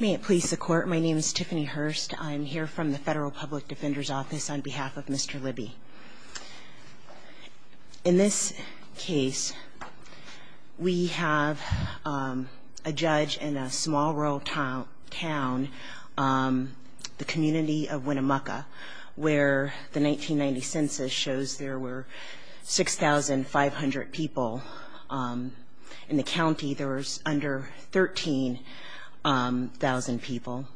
May it please the court. My name is Tiffany Hurst. I'm here from the Federal Public Defender's Office on behalf of Mr. Libby. In this case, we have a judge in a small rural town, the community of Winnemucca, where the 1990 census shows there were 6,500 people. In the county, there was under 13,000 people.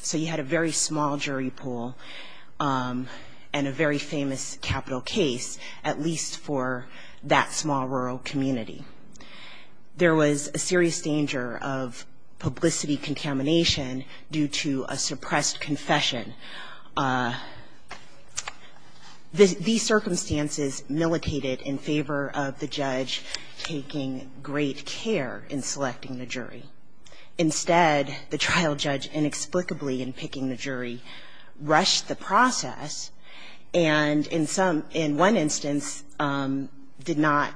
So you had a very small jury pool and a very famous capital case, at least for that small rural community. There was a serious danger of publicity contamination due to a suppressed confession. These circumstances militated in favor of the judge taking great care in selecting the jury. Instead, the trial judge, inexplicably in picking the jury, rushed the process and, in some – in one instance, did not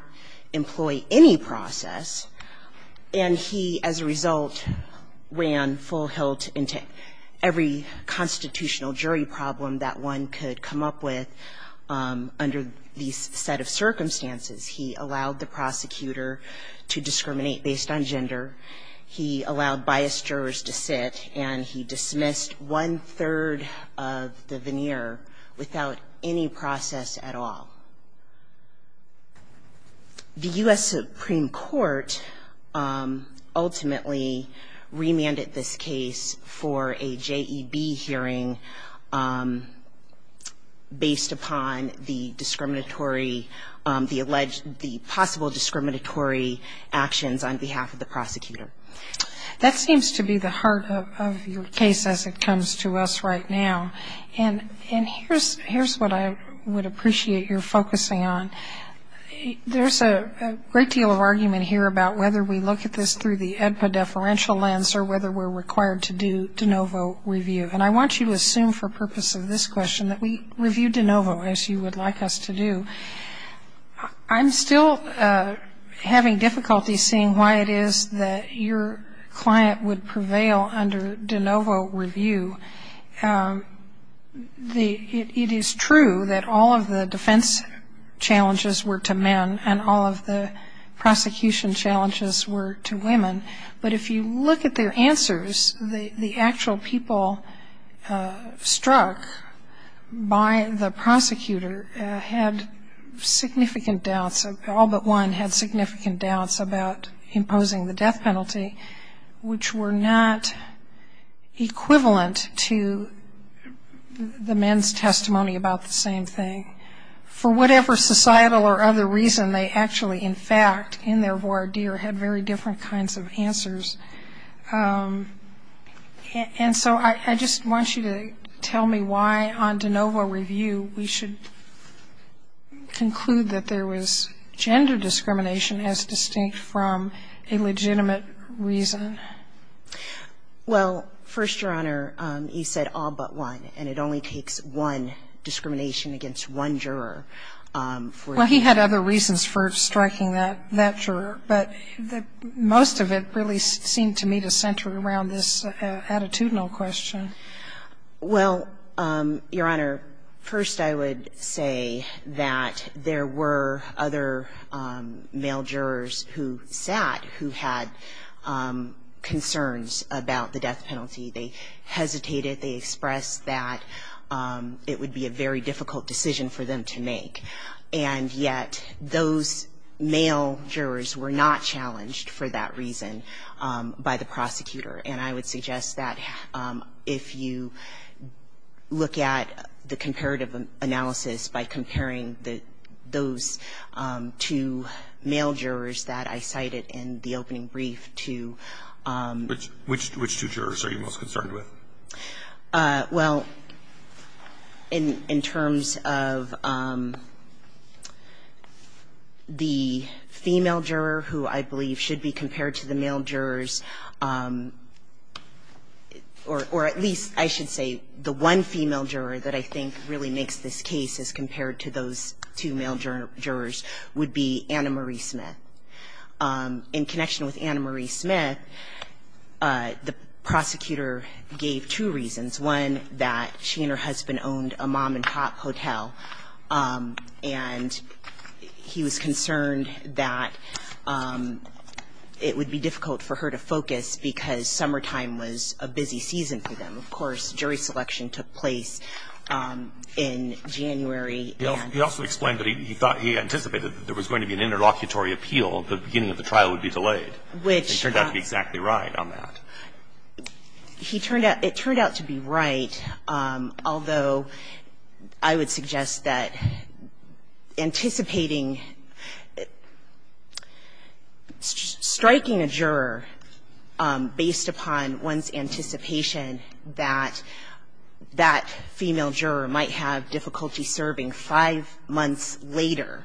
employ any process. And he, as a result, ran full hilt into every constitutional jury problem that one could come up with under these set of circumstances. He allowed the prosecutor to discriminate based on gender. He allowed biased jurors to sit. And he dismissed one-third of the veneer without any process at all. The U.S. Supreme Court ultimately remanded this case for a J.E.B. hearing based upon the discriminatory – the alleged – the possible discriminatory actions on behalf of the prosecutor. That seems to be the heart of your case as it comes to us right now. And here's what I would appreciate your focusing on. There's a great deal of argument here about whether we look at this through the AEDPA deferential lens or whether we're required to do de novo review. And I want you to assume for purpose of this question that we review de novo, as you would like us to do. I'm still having difficulty seeing why it is that your client would prevail under de novo review. It is true that all of the defense challenges were to men and all of the prosecution challenges were to women. But if you look at their answers, the actual people struck by the prosecutor had significant doubts. All but one had significant doubts about imposing the death penalty, which were not equivalent to the men's testimony about the same thing. For whatever societal or other reason, they actually, in fact, in their voir dire, had very different kinds of answers. And so I just want you to tell me why on de novo review we should conclude that there was gender discrimination as distinct from a legitimate reason. Well, first, Your Honor, you said all but one, and it only takes one discrimination against one juror. Well, he had other reasons for striking that juror. But most of it really seemed to me to center around this attitudinal question. Well, Your Honor, first I would say that there were other male jurors who sat who had concerns about the death penalty. They hesitated. They expressed that it would be a very difficult decision for them to make. And yet those male jurors were not challenged for that reason by the prosecutor. And I would suggest that if you look at the comparative analysis by comparing those two male jurors that I cited in the opening brief to which two jurors are you most concerned with? Well, in terms of the female juror who I believe should be compared to the male jurors, or at least I should say the one female juror that I think really makes this case as compared to those two male jurors, would be Anna Marie Smith. In connection with Anna Marie Smith, the prosecutor gave two reasons. One, that she and her husband owned a mom-and-pop hotel. And he was concerned that it would be difficult for her to focus because summertime was a busy season for them. Of course, jury selection took place in January. He also explained that he anticipated that there was going to be an interlocutory appeal at the beginning of the trial would be delayed. Which turned out to be exactly right on that. It turned out to be right, although I would suggest that anticipating striking a juror based upon one's anticipation that that female juror might have difficulty serving five months later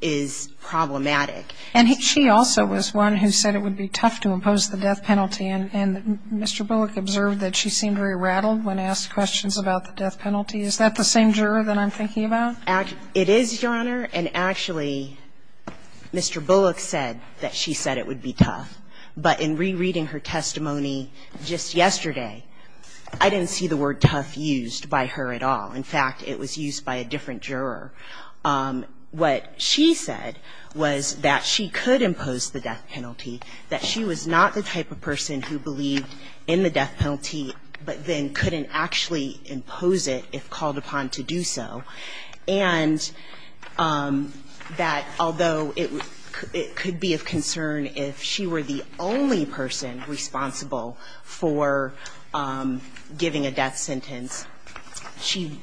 is problematic. And she also was one who said it would be tough to impose the death penalty. And Mr. Bullock observed that she seemed very rattled when asked questions about the death penalty. Is that the same juror that I'm thinking about? It is, Your Honor, and actually Mr. Bullock said that she said it would be tough. But in rereading her testimony just yesterday, I didn't see the word tough used by her at all. In fact, it was used by a different juror. What she said was that she could impose the death penalty, that she was not the type of person who believed in the death penalty, but then couldn't actually impose it if called upon to do so. And that although it could be of concern if she were the only person responsible for giving a death sentence, she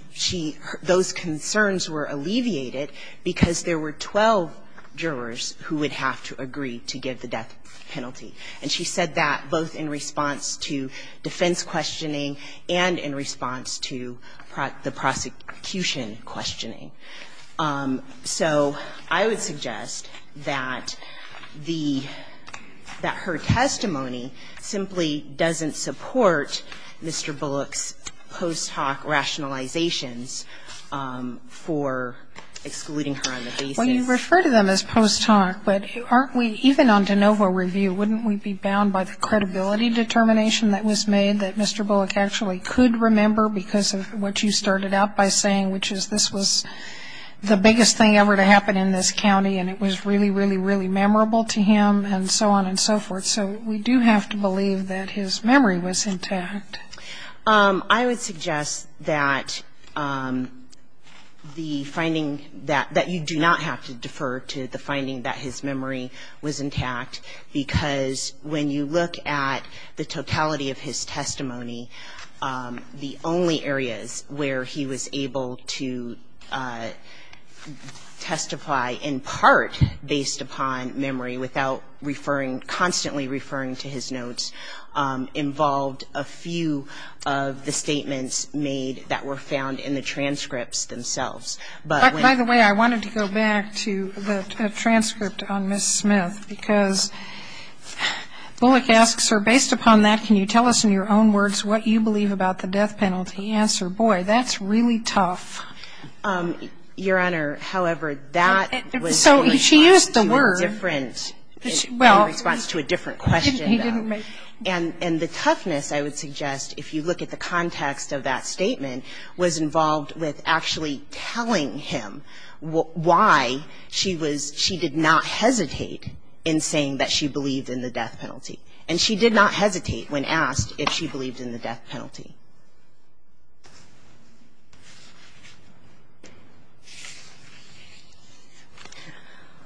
– those concerns were alleviated because there were 12 jurors who would have to agree to give the death penalty. And she said that both in response to defense questioning and in response to the prosecution questioning. So I would suggest that the – that her testimony simply doesn't support Mr. Bullock's post hoc rationalizations for excluding her on the basis. Well, you refer to them as post hoc, but aren't we – even on de novo review, wouldn't we be bound by the credibility determination that was made that Mr. Bullock actually could remember because of what you started out by saying, which is this was the biggest thing ever to happen in this county, and it was really, really, really memorable to him, and so on and so forth? So we do have to believe that his memory was intact. I would suggest that the finding – that you do not have to defer to the finding that his memory was intact, because when you look at the totality of his testimony, the only areas where he was able to testify in part based upon memory without referring – constantly referring to his notes involved a few of the statements made that were found in the transcripts themselves. But when – By the way, I wanted to go back to the transcript on Ms. Smith, because Bullock asked, sir, based upon that, can you tell us in your own words what you believe about the death penalty? He answered, boy, that's really tough. Your Honor, however, that was in response to a different – in response to a different question, though. He didn't make – And the toughness, I would suggest, if you look at the context of that statement, was involved with actually telling him why she was – she did not hesitate in saying that she believed in the death penalty. And she did not hesitate when asked if she believed in the death penalty.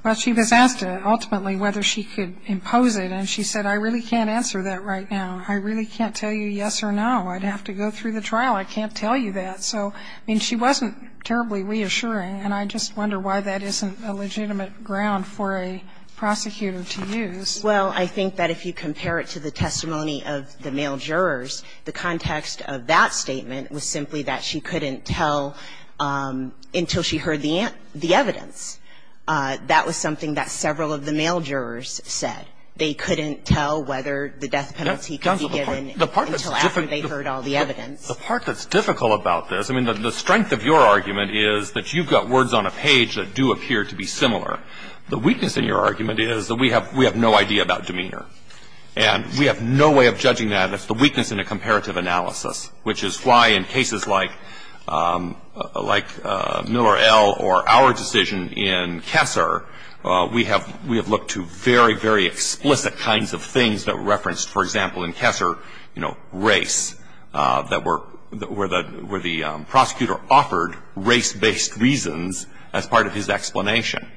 Well, she was asked ultimately whether she could impose it, and she said, I really can't answer that right now. I really can't tell you yes or no. I'd have to go through the trial. I can't tell you that. So, I mean, she wasn't terribly reassuring, and I just wonder why that isn't a legitimate ground for a prosecutor to use. Well, I think that if you compare it to the testimony of the male jurors, the context of that statement was simply that she couldn't tell until she heard the evidence. That was something that several of the male jurors said. They couldn't tell whether the death penalty could be given until after they heard all the evidence. The part that's difficult about this – I mean, the strength of your argument is that you've got words on a page that do appear to be similar. The weakness in your argument is that we have no idea about demeanor. And we have no way of judging that. That's the weakness in a comparative analysis, which is why in cases like Miller L. or our decision in Kessler, we have looked to very, very explicit kinds of things that were referenced, for example, in Kessler, you know, race, where the prosecutor offered race-based reasons as part of his explanation.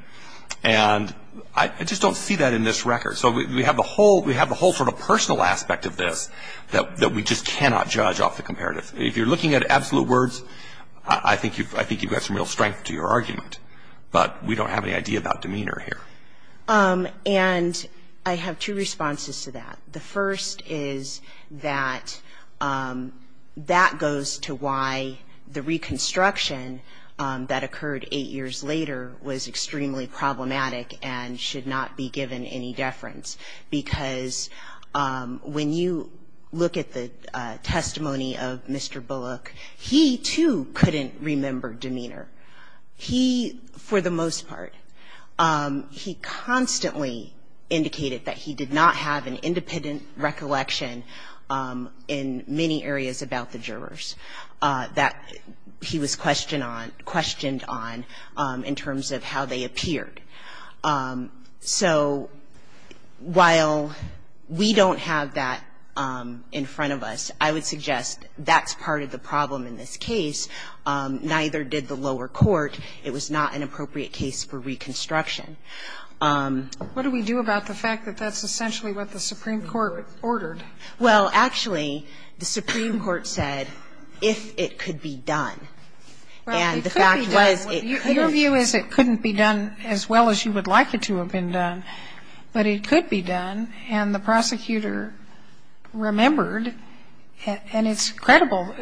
And I just don't see that in this record. So we have the whole sort of personal aspect of this that we just cannot judge off the comparative. If you're looking at absolute words, I think you've got some real strength to your argument. But we don't have any idea about demeanor here. And I have two responses to that. The first is that that goes to why the reconstruction that occurred eight years later was extremely problematic and should not be given any deference. Because when you look at the testimony of Mr. Bullock, he, too, couldn't remember demeanor. He – for the most part – he constantly indicated that he did not have an independent recollection in many areas about the jurors that he was questioned on – questioned on in terms of how they appeared. So while we don't have that in front of us, I would suggest that's part of the problem in this case. Neither did the lower court. It was not an appropriate case for reconstruction. What do we do about the fact that that's essentially what the Supreme Court ordered? Well, actually, the Supreme Court said if it could be done. And the fact was it couldn't be done. Well, it could be done. Your view is it couldn't be done as well as you would like it to have been done, but it could be done. And the prosecutor remembered, and it's credible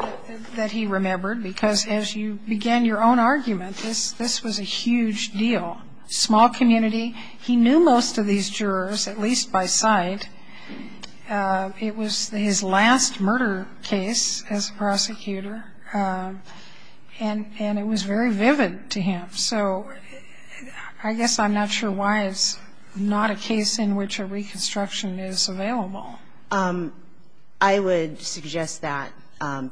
that he remembered, because as you began your own argument, this – this was a huge deal. Small community. He knew most of these jurors, at least by sight. It was his last murder case as a prosecutor, and – and it was very vivid to him. So I guess I'm not sure why it's not a case in which a reconstruction is available. I would suggest that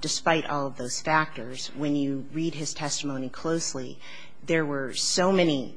despite all of those factors, when you read his testimony closely, there were so many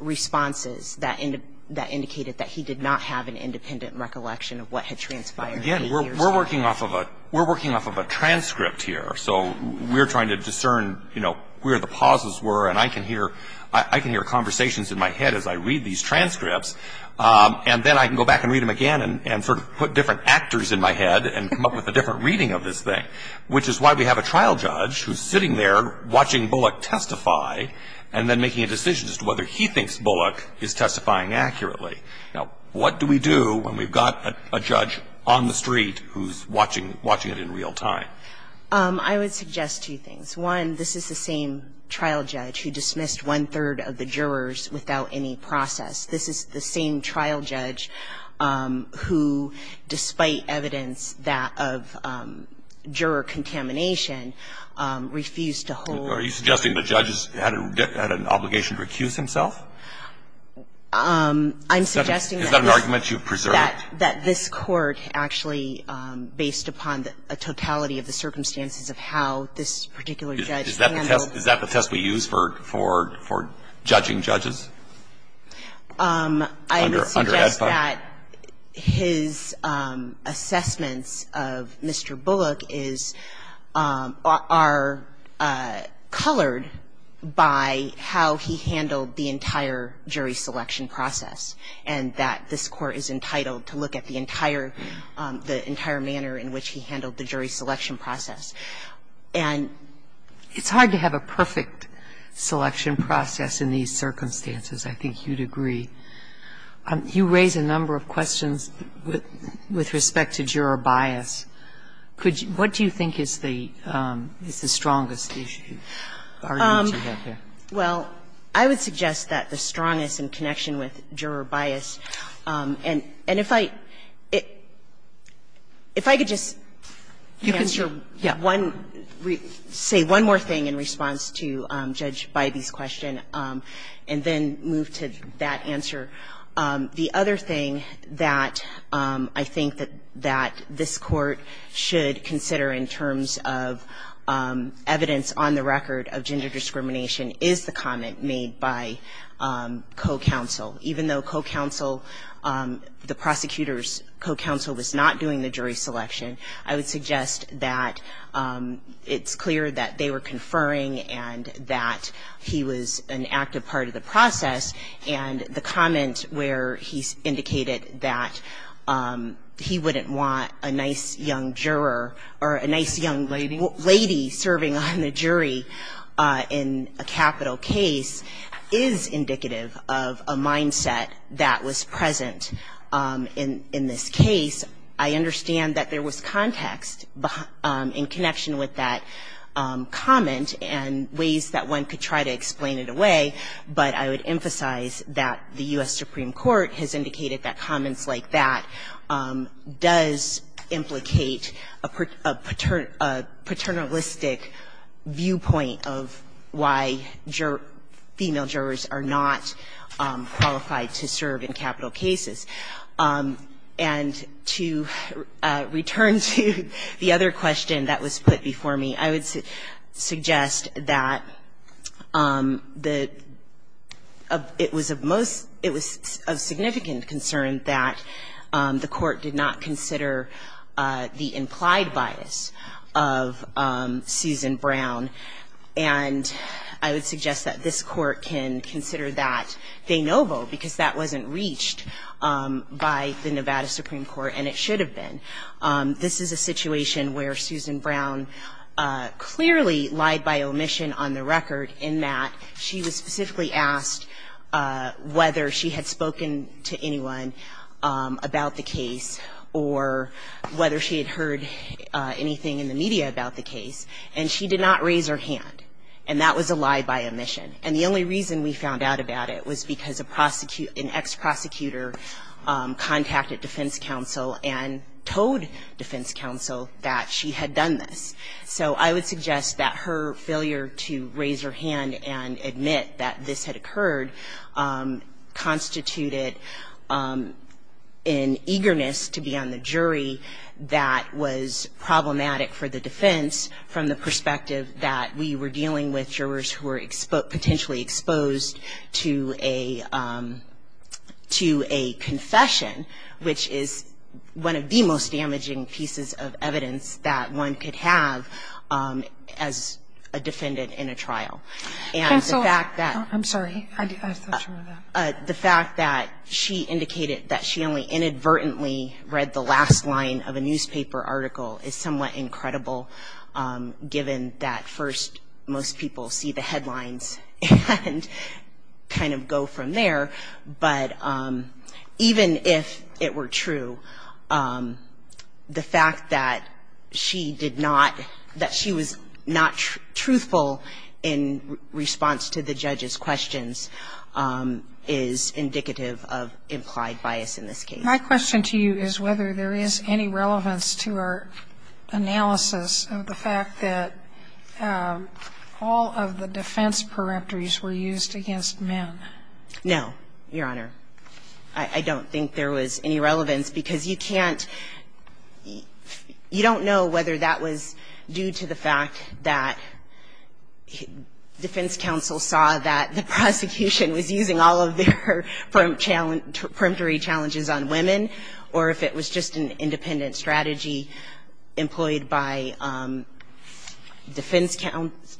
responses that indicated that he did not have an independent recollection of what had transpired. Again, we're working off of a – we're working off of a transcript here. So we're trying to discern, you know, where the pauses were. And I can hear – I can hear conversations in my head as I read these transcripts. And then I can go back and read them again and sort of put different actors in my head and come up with a different reading of this thing, which is why we have a trial judge who's sitting there watching Bullock testify and then making a decision as to whether he thinks Bullock is testifying accurately. Now, what do we do when we've got a – a judge on the street who's watching – watching it in real time? I would suggest two things. One, this is the same trial judge who dismissed one-third of the jurors without any process. This is the same trial judge who, despite evidence that of juror contamination, refused to hold – Are you suggesting the judge had an obligation to recuse himself? I'm suggesting that – Is that an argument you've preserved? That this Court actually, based upon the totality of the circumstances of how this particular judge handled – Is that the test we use for – for judging judges? I would suggest that – Under ADFA? Under ADFA, the judge's assessments of Mr. Bullock is – are colored by how he handled the entire jury selection process and that this Court is entitled to look at the entire – the entire manner in which he handled the jury selection process. And – It's hard to have a perfect selection process in these circumstances, I think you'd agree. You raise a number of questions with respect to juror bias. Could you – what do you think is the – is the strongest issue, argument you have there? Well, I would suggest that the strongest in connection with juror bias – and if I – if I could just answer one question. One – say one more thing in response to Judge Bybee's question and then move to that answer. The other thing that I think that – that this Court should consider in terms of evidence on the record of gender discrimination is the comment made by co-counsel. Even though co-counsel – the prosecutor's co-counsel was not doing the jury selection, I would suggest that it's clear that they were conferring and that he was an active part of the process. And the comment where he indicated that he wouldn't want a nice young juror or a nice young lady serving on the jury in a capital case is indicative of a mindset that was present in this case. I understand that there was context in connection with that comment and ways that one could try to explain it away, but I would emphasize that the U.S. Supreme Court has indicated that comments like that does implicate a paternalistic viewpoint of why female jurors are not qualified to serve in capital cases. And to return to the other question that was put before me, I would suggest that the – it was of most – it was of significant concern that the Court did not consider the implied bias of Susan Brown, and I would suggest that this Court can consider that de novo because that wasn't reached by the Nevada Supreme Court and it should have been. This is a situation where Susan Brown clearly lied by omission on the record in that she was specifically asked whether she had spoken to anyone about the case or whether she had heard anything in the media about the case, and she did not raise her hand. And that was a lie by omission. And the only reason we found out about it was because an ex-prosecutor contacted defense counsel and told defense counsel that she had done this. So I would suggest that her failure to raise her hand and admit that this had occurred constituted an eagerness to be on the jury that was problematic for the defense from the perspective that we were dealing with jurors who were potentially exposed to a – to a confession, which is one of the most damaging pieces of evidence that one could have as a defendant in a trial. And the fact that – I'm sorry. I thought you were going to – The fact that she indicated that she only inadvertently read the last line of a newspaper article is somewhat incredible given that first most people see the headlines and kind of go from there. But even if it were true, the fact that she did not – that she was not truthful in response to the judge's questions is indicative of implied bias in this case. My question to you is whether there is any relevance to our analysis of the fact that all of the defense peremptories were used against men. No, Your Honor. I don't think there was any relevance because you can't – you don't know whether that was due to the fact that defense counsel saw that the prosecution was using all of their peremptory challenges on women or if it was just an independent strategy employed by defense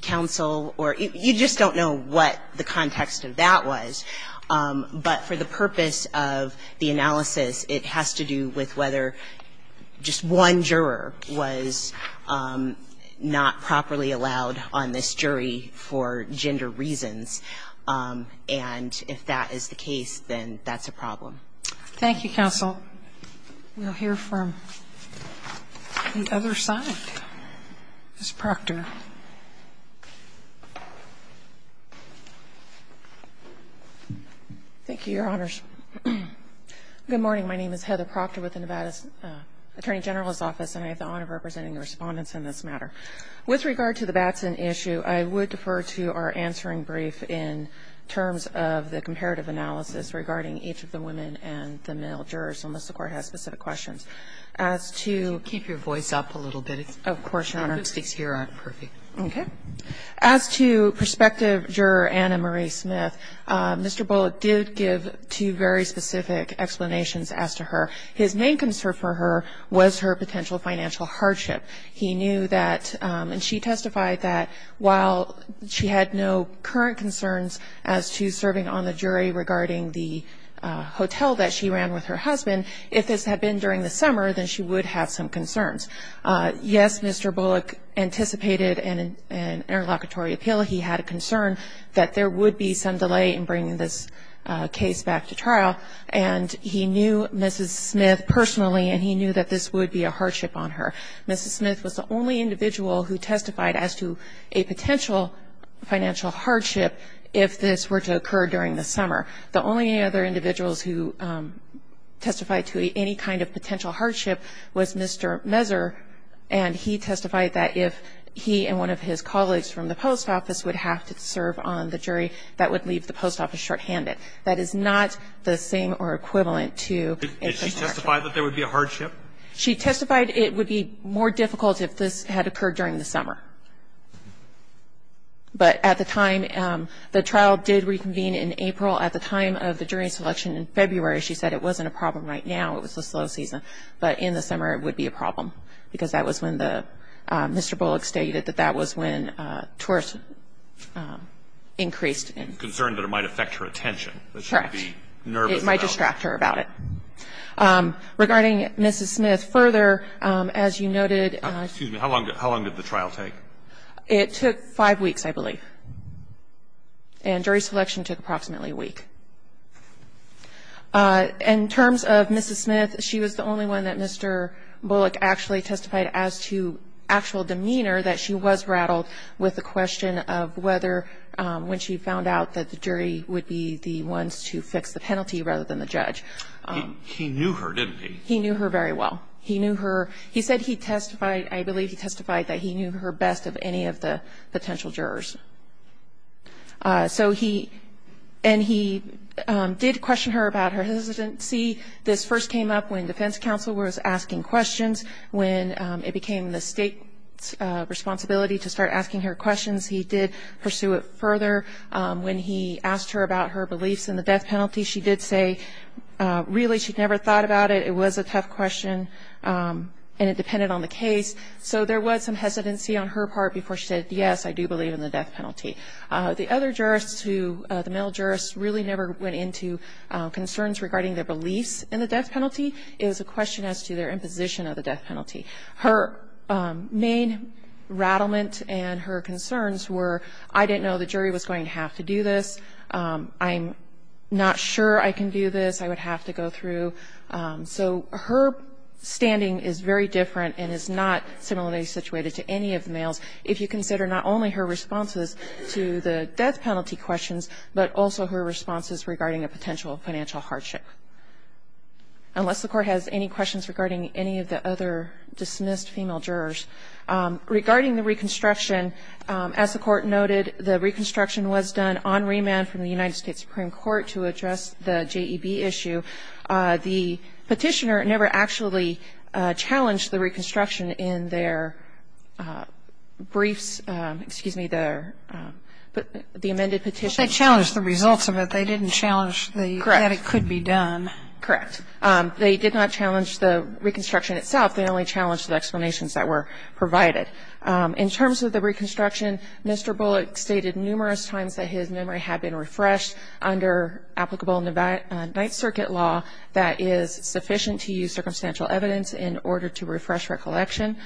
counsel or – you just don't know what the context of that was. But for the purpose of the analysis, it has to do with whether just one juror was not properly allowed on this jury for gender reasons. And if that is the case, then that's a problem. Thank you, counsel. We'll hear from the other side. Ms. Proctor. Thank you, Your Honors. Good morning. My name is Heather Proctor with the Nevada Attorney General's Office, and I have the honor of representing the Respondents in this matter. With regard to the Batson issue, I would defer to our answering brief in terms of the comparative analysis regarding each of the women and the male jurors, unless the Court has specific questions. As to – Keep your voice up a little bit. Of course, Your Honor. The acoustics here aren't perfect. Okay. As to prospective juror Anna Marie Smith, Mr. Bullock did give two very specific explanations as to her. His main concern for her was her potential financial hardship. He knew that – and she testified that while she had no current concerns as to serving on the jury regarding the hotel that she ran with her husband, if this had been during the summer, then she would have some concerns. Yes, Mr. Bullock anticipated an interlocutory appeal. He had a concern that there would be some delay in bringing this case back to trial. And he knew Mrs. Smith personally, and he knew that this would be a hardship on her. Mrs. Smith was the only individual who testified as to a potential financial hardship if this were to occur during the summer. The only other individuals who testified to any kind of potential hardship was Mr. Messer, and he testified that if he and one of his colleagues from the post office would have to serve on the jury, that would leave the post office shorthanded. That is not the same or equivalent to – Did she testify that there would be a hardship? She testified it would be more difficult if this had occurred during the summer. But at the time, the trial did reconvene in April. At the time of the jury selection in February, she said it wasn't a problem right now, it was a slow season. But in the summer, it would be a problem, because that was when the – Mr. Bullock stated that that was when tourists increased in – Concern that it might affect her attention. Correct. That she would be nervous about it. It might distract her about it. Regarding Mrs. Smith, further, as you noted – Excuse me. How long did the trial take? It took five weeks, I believe. And jury selection took approximately a week. In terms of Mrs. Smith, she was the only one that Mr. Bullock actually testified as to actual demeanor that she was rattled with the question of whether, when she found out that the jury would be the ones to fix the penalty rather than the judge. He knew her, didn't he? He knew her very well. He knew her. He said he testified – I believe he testified that he knew her best of any of the potential jurors. So he – and he did question her about her hesitancy. This first came up when defense counsel was asking questions. When it became the State's responsibility to start asking her questions, he did pursue it further. When he asked her about her beliefs in the death penalty, she did say, really, she'd never thought about it. It was a tough question, and it depended on the case. So there was some hesitancy on her part before she said, yes, I do believe in the death penalty. The other jurists who – the male jurists really never went into concerns regarding their beliefs in the death penalty. It was a question as to their imposition of the death penalty. Her main rattlement and her concerns were, I didn't know the jury was going to have to do this. I'm not sure I can do this. I would have to go through. So her standing is very different and is not similarly situated to any of the males if you consider not only her responses to the death penalty questions, but also her responses regarding a potential financial hardship. Unless the Court has any questions regarding any of the other dismissed female jurors. Regarding the reconstruction, as the Court noted, the reconstruction was done on remand from the United States Supreme Court to address the JEB issue. The petitioner never actually challenged the reconstruction in their briefs. Excuse me, the amended petition. Well, they challenged the results of it. They didn't challenge that it could be done. Correct. They did not challenge the reconstruction itself. They only challenged the explanations that were provided. In terms of the reconstruction, Mr. Bullock stated numerous times that his memory had been refreshed under applicable Ninth Circuit law that is sufficient to use circumstantial evidence in order to refresh recollection.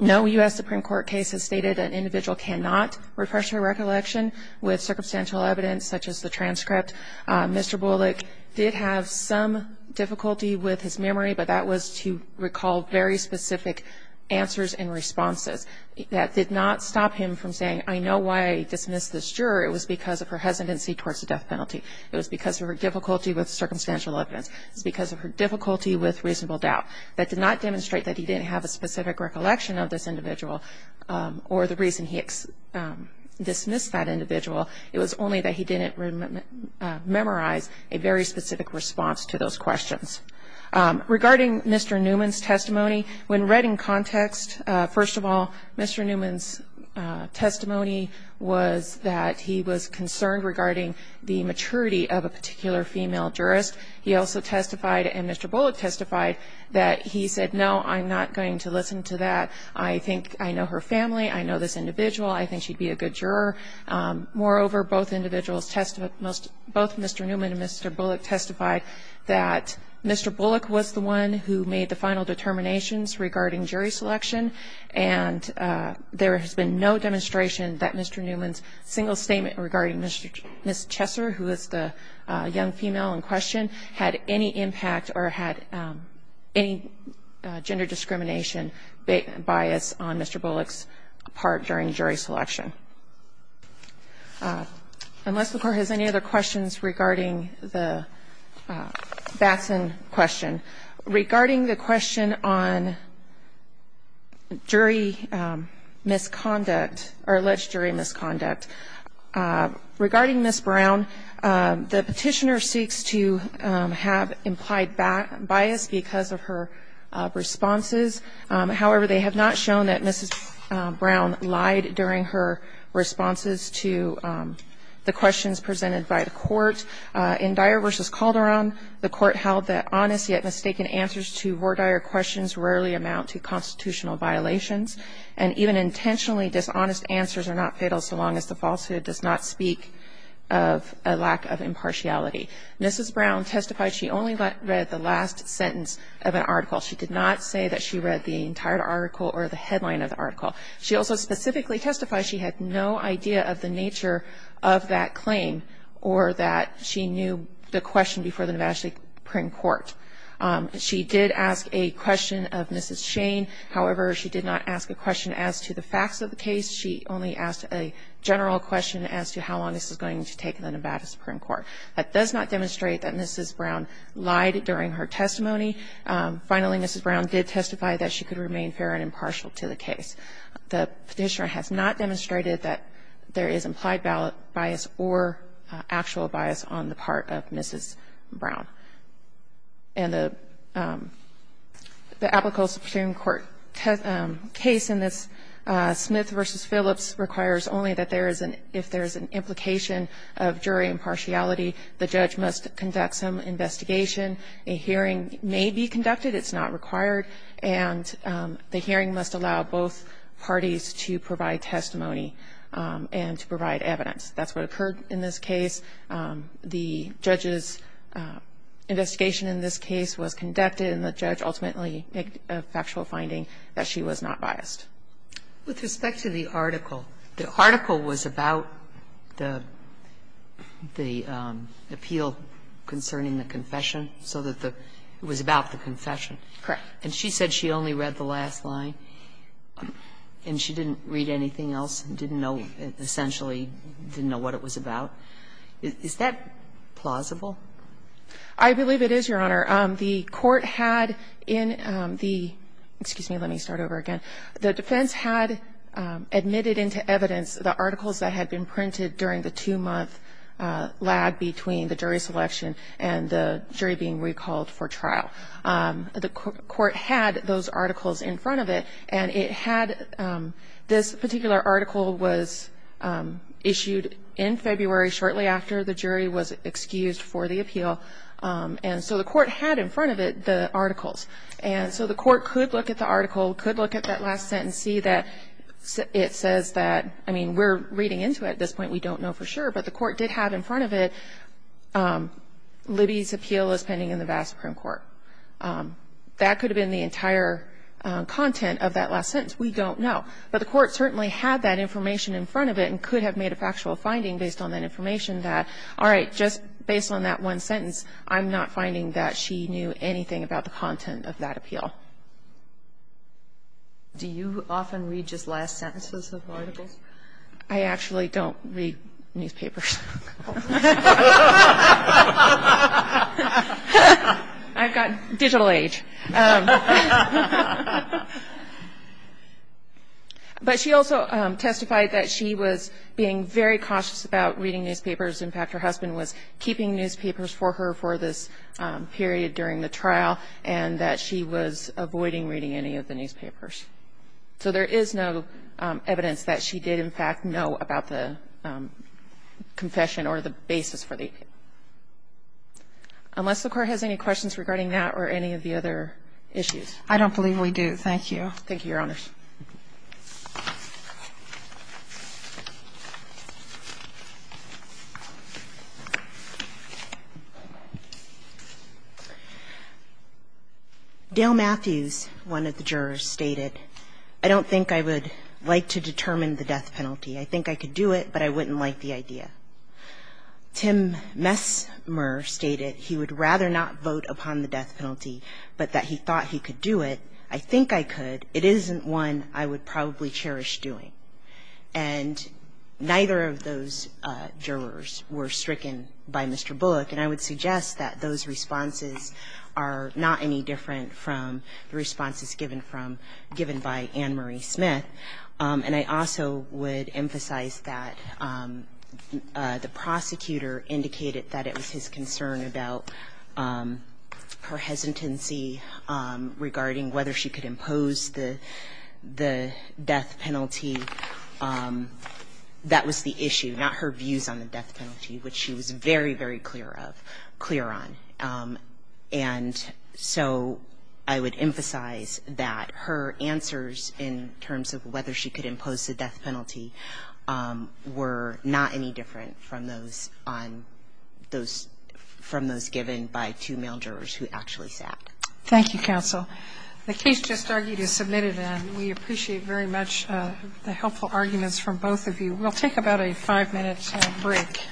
No U.S. Supreme Court case has stated an individual cannot refresh their recollection with circumstantial evidence such as the transcript. Mr. Bullock did have some difficulty with his memory, but that was to recall very specific answers and responses. That did not stop him from saying, I know why I dismissed this juror. It was because of her hesitancy towards the death penalty. It was because of her difficulty with circumstantial evidence. It was because of her difficulty with reasonable doubt. That did not demonstrate that he didn't have a specific recollection of this individual or the reason he dismissed that individual. It was only that he didn't memorize a very specific response to those questions. Regarding Mr. Newman's testimony, when read in context, first of all, Mr. Newman's testimony was that he was concerned regarding the maturity of a particular female jurist. He also testified, and Mr. Bullock testified, that he said, no, I'm not going to listen to that. I think I know her family. I know this individual. I think she'd be a good juror. Moreover, both individuals testified, both Mr. Newman and Mr. Bullock testified, that Mr. Bullock was the one who made the final determinations regarding jury selection, and there has been no demonstration that Mr. Newman's single statement regarding Ms. Chesser, who is the young female in question, had any impact or had any gender discrimination bias on Mr. Bullock's part during jury selection. Unless the Court has any other questions regarding the Batson question, regarding the question on jury misconduct or alleged jury misconduct, regarding Ms. Brown, the Petitioner seeks to have implied bias because of her responses. However, they have not shown that Ms. Brown lied during her responses to the questions presented by the Court. In Dyer v. Calderon, the Court held that honest yet mistaken answers to Vordyer questions rarely amount to constitutional violations, and even intentionally dishonest answers are not fatal so long as the falsehood does not speak of a lack of impartiality. Mrs. Brown testified she only read the last sentence of an article. She did not say that she read the entire article or the headline of the article. She also specifically testified she had no idea of the nature of that claim or that she knew the question before the Nevada State Supreme Court. She did ask a question of Mrs. Shane. However, she did not ask a question as to the facts of the case. She only asked a general question as to how long this is going to take in the Nevada Supreme Court. That does not demonstrate that Mrs. Brown lied during her testimony. Finally, Mrs. Brown did testify that she could remain fair and impartial to the case. The Petitioner has not demonstrated that there is implied bias or actual bias on the part of Mrs. Brown. And the applicable Supreme Court case in this Smith v. Phillips requires only that there is an ‑‑ if there is an implication of jury impartiality, the judge must conduct some investigation. A hearing may be conducted. It's not required. And the hearing must allow both parties to provide testimony and to provide evidence. That's what occurred in this case. The judge's investigation in this case was conducted, and the judge ultimately made a factual finding that she was not biased. With respect to the article, the article was about the appeal concerning the confession, so that the ‑‑ it was about the confession. Correct. And she said she only read the last line, and she didn't read anything else and didn't know, essentially didn't know what it was about. Is that plausible? I believe it is, Your Honor. The court had in the ‑‑ excuse me, let me start over again. The defense had admitted into evidence the articles that had been printed during the two‑month lag between the jury selection and the jury being recalled for trial. The court had those articles in front of it, and it had ‑‑ this particular article was issued in February, shortly after the jury was excused for the appeal. And so the court had in front of it the articles. And so the court could look at the article, could look at that last sentence, see that it says that ‑‑ I mean, we're reading into it at this point. We don't know for sure, but the court did have in front of it, Libby's appeal is pending in the vast Supreme Court. That could have been the entire content of that last sentence. We don't know. But the court certainly had that information in front of it and could have made a factual finding based on that information that, all right, just based on that one sentence, I'm not finding that she knew anything about the content of that appeal. Do you often read just last sentences of articles? I actually don't read newspapers. I've got digital age. But she also testified that she was being very cautious about reading newspapers. In fact, her husband was keeping newspapers for her for this period during the trial and that she was avoiding reading any of the newspapers. So there is no evidence that she did, in fact, know about the confession or the basis for the appeal. Unless the Court has any questions regarding that or any of the other issues. I don't believe we do. Thank you. Thank you, Your Honors. Dale Matthews, one of the jurors, stated, I don't think I would like to determine the death penalty. I think I could do it, but I wouldn't like the idea. Tim Messmer stated he would rather not vote upon the death penalty, but that he thought he could do it. I think I could. It isn't one I would probably cherish doing. And neither of those jurors were stricken by Mr. Bullock, and I would suggest that those responses are not any different from the responses given by Ann Marie Smith. And I also would emphasize that the prosecutor indicated that it was his concern about her hesitancy regarding whether she could impose the death penalty. That was the issue, not her views on the death penalty, which she was very, very clear of, clear on. And so I would emphasize that her answers in terms of whether she could impose the death penalty were not any different from those given by two male jurors who actually sat. Thank you, counsel. The case just argued is submitted, and we appreciate very much the helpful arguments from both of you. We'll take about a five-minute break.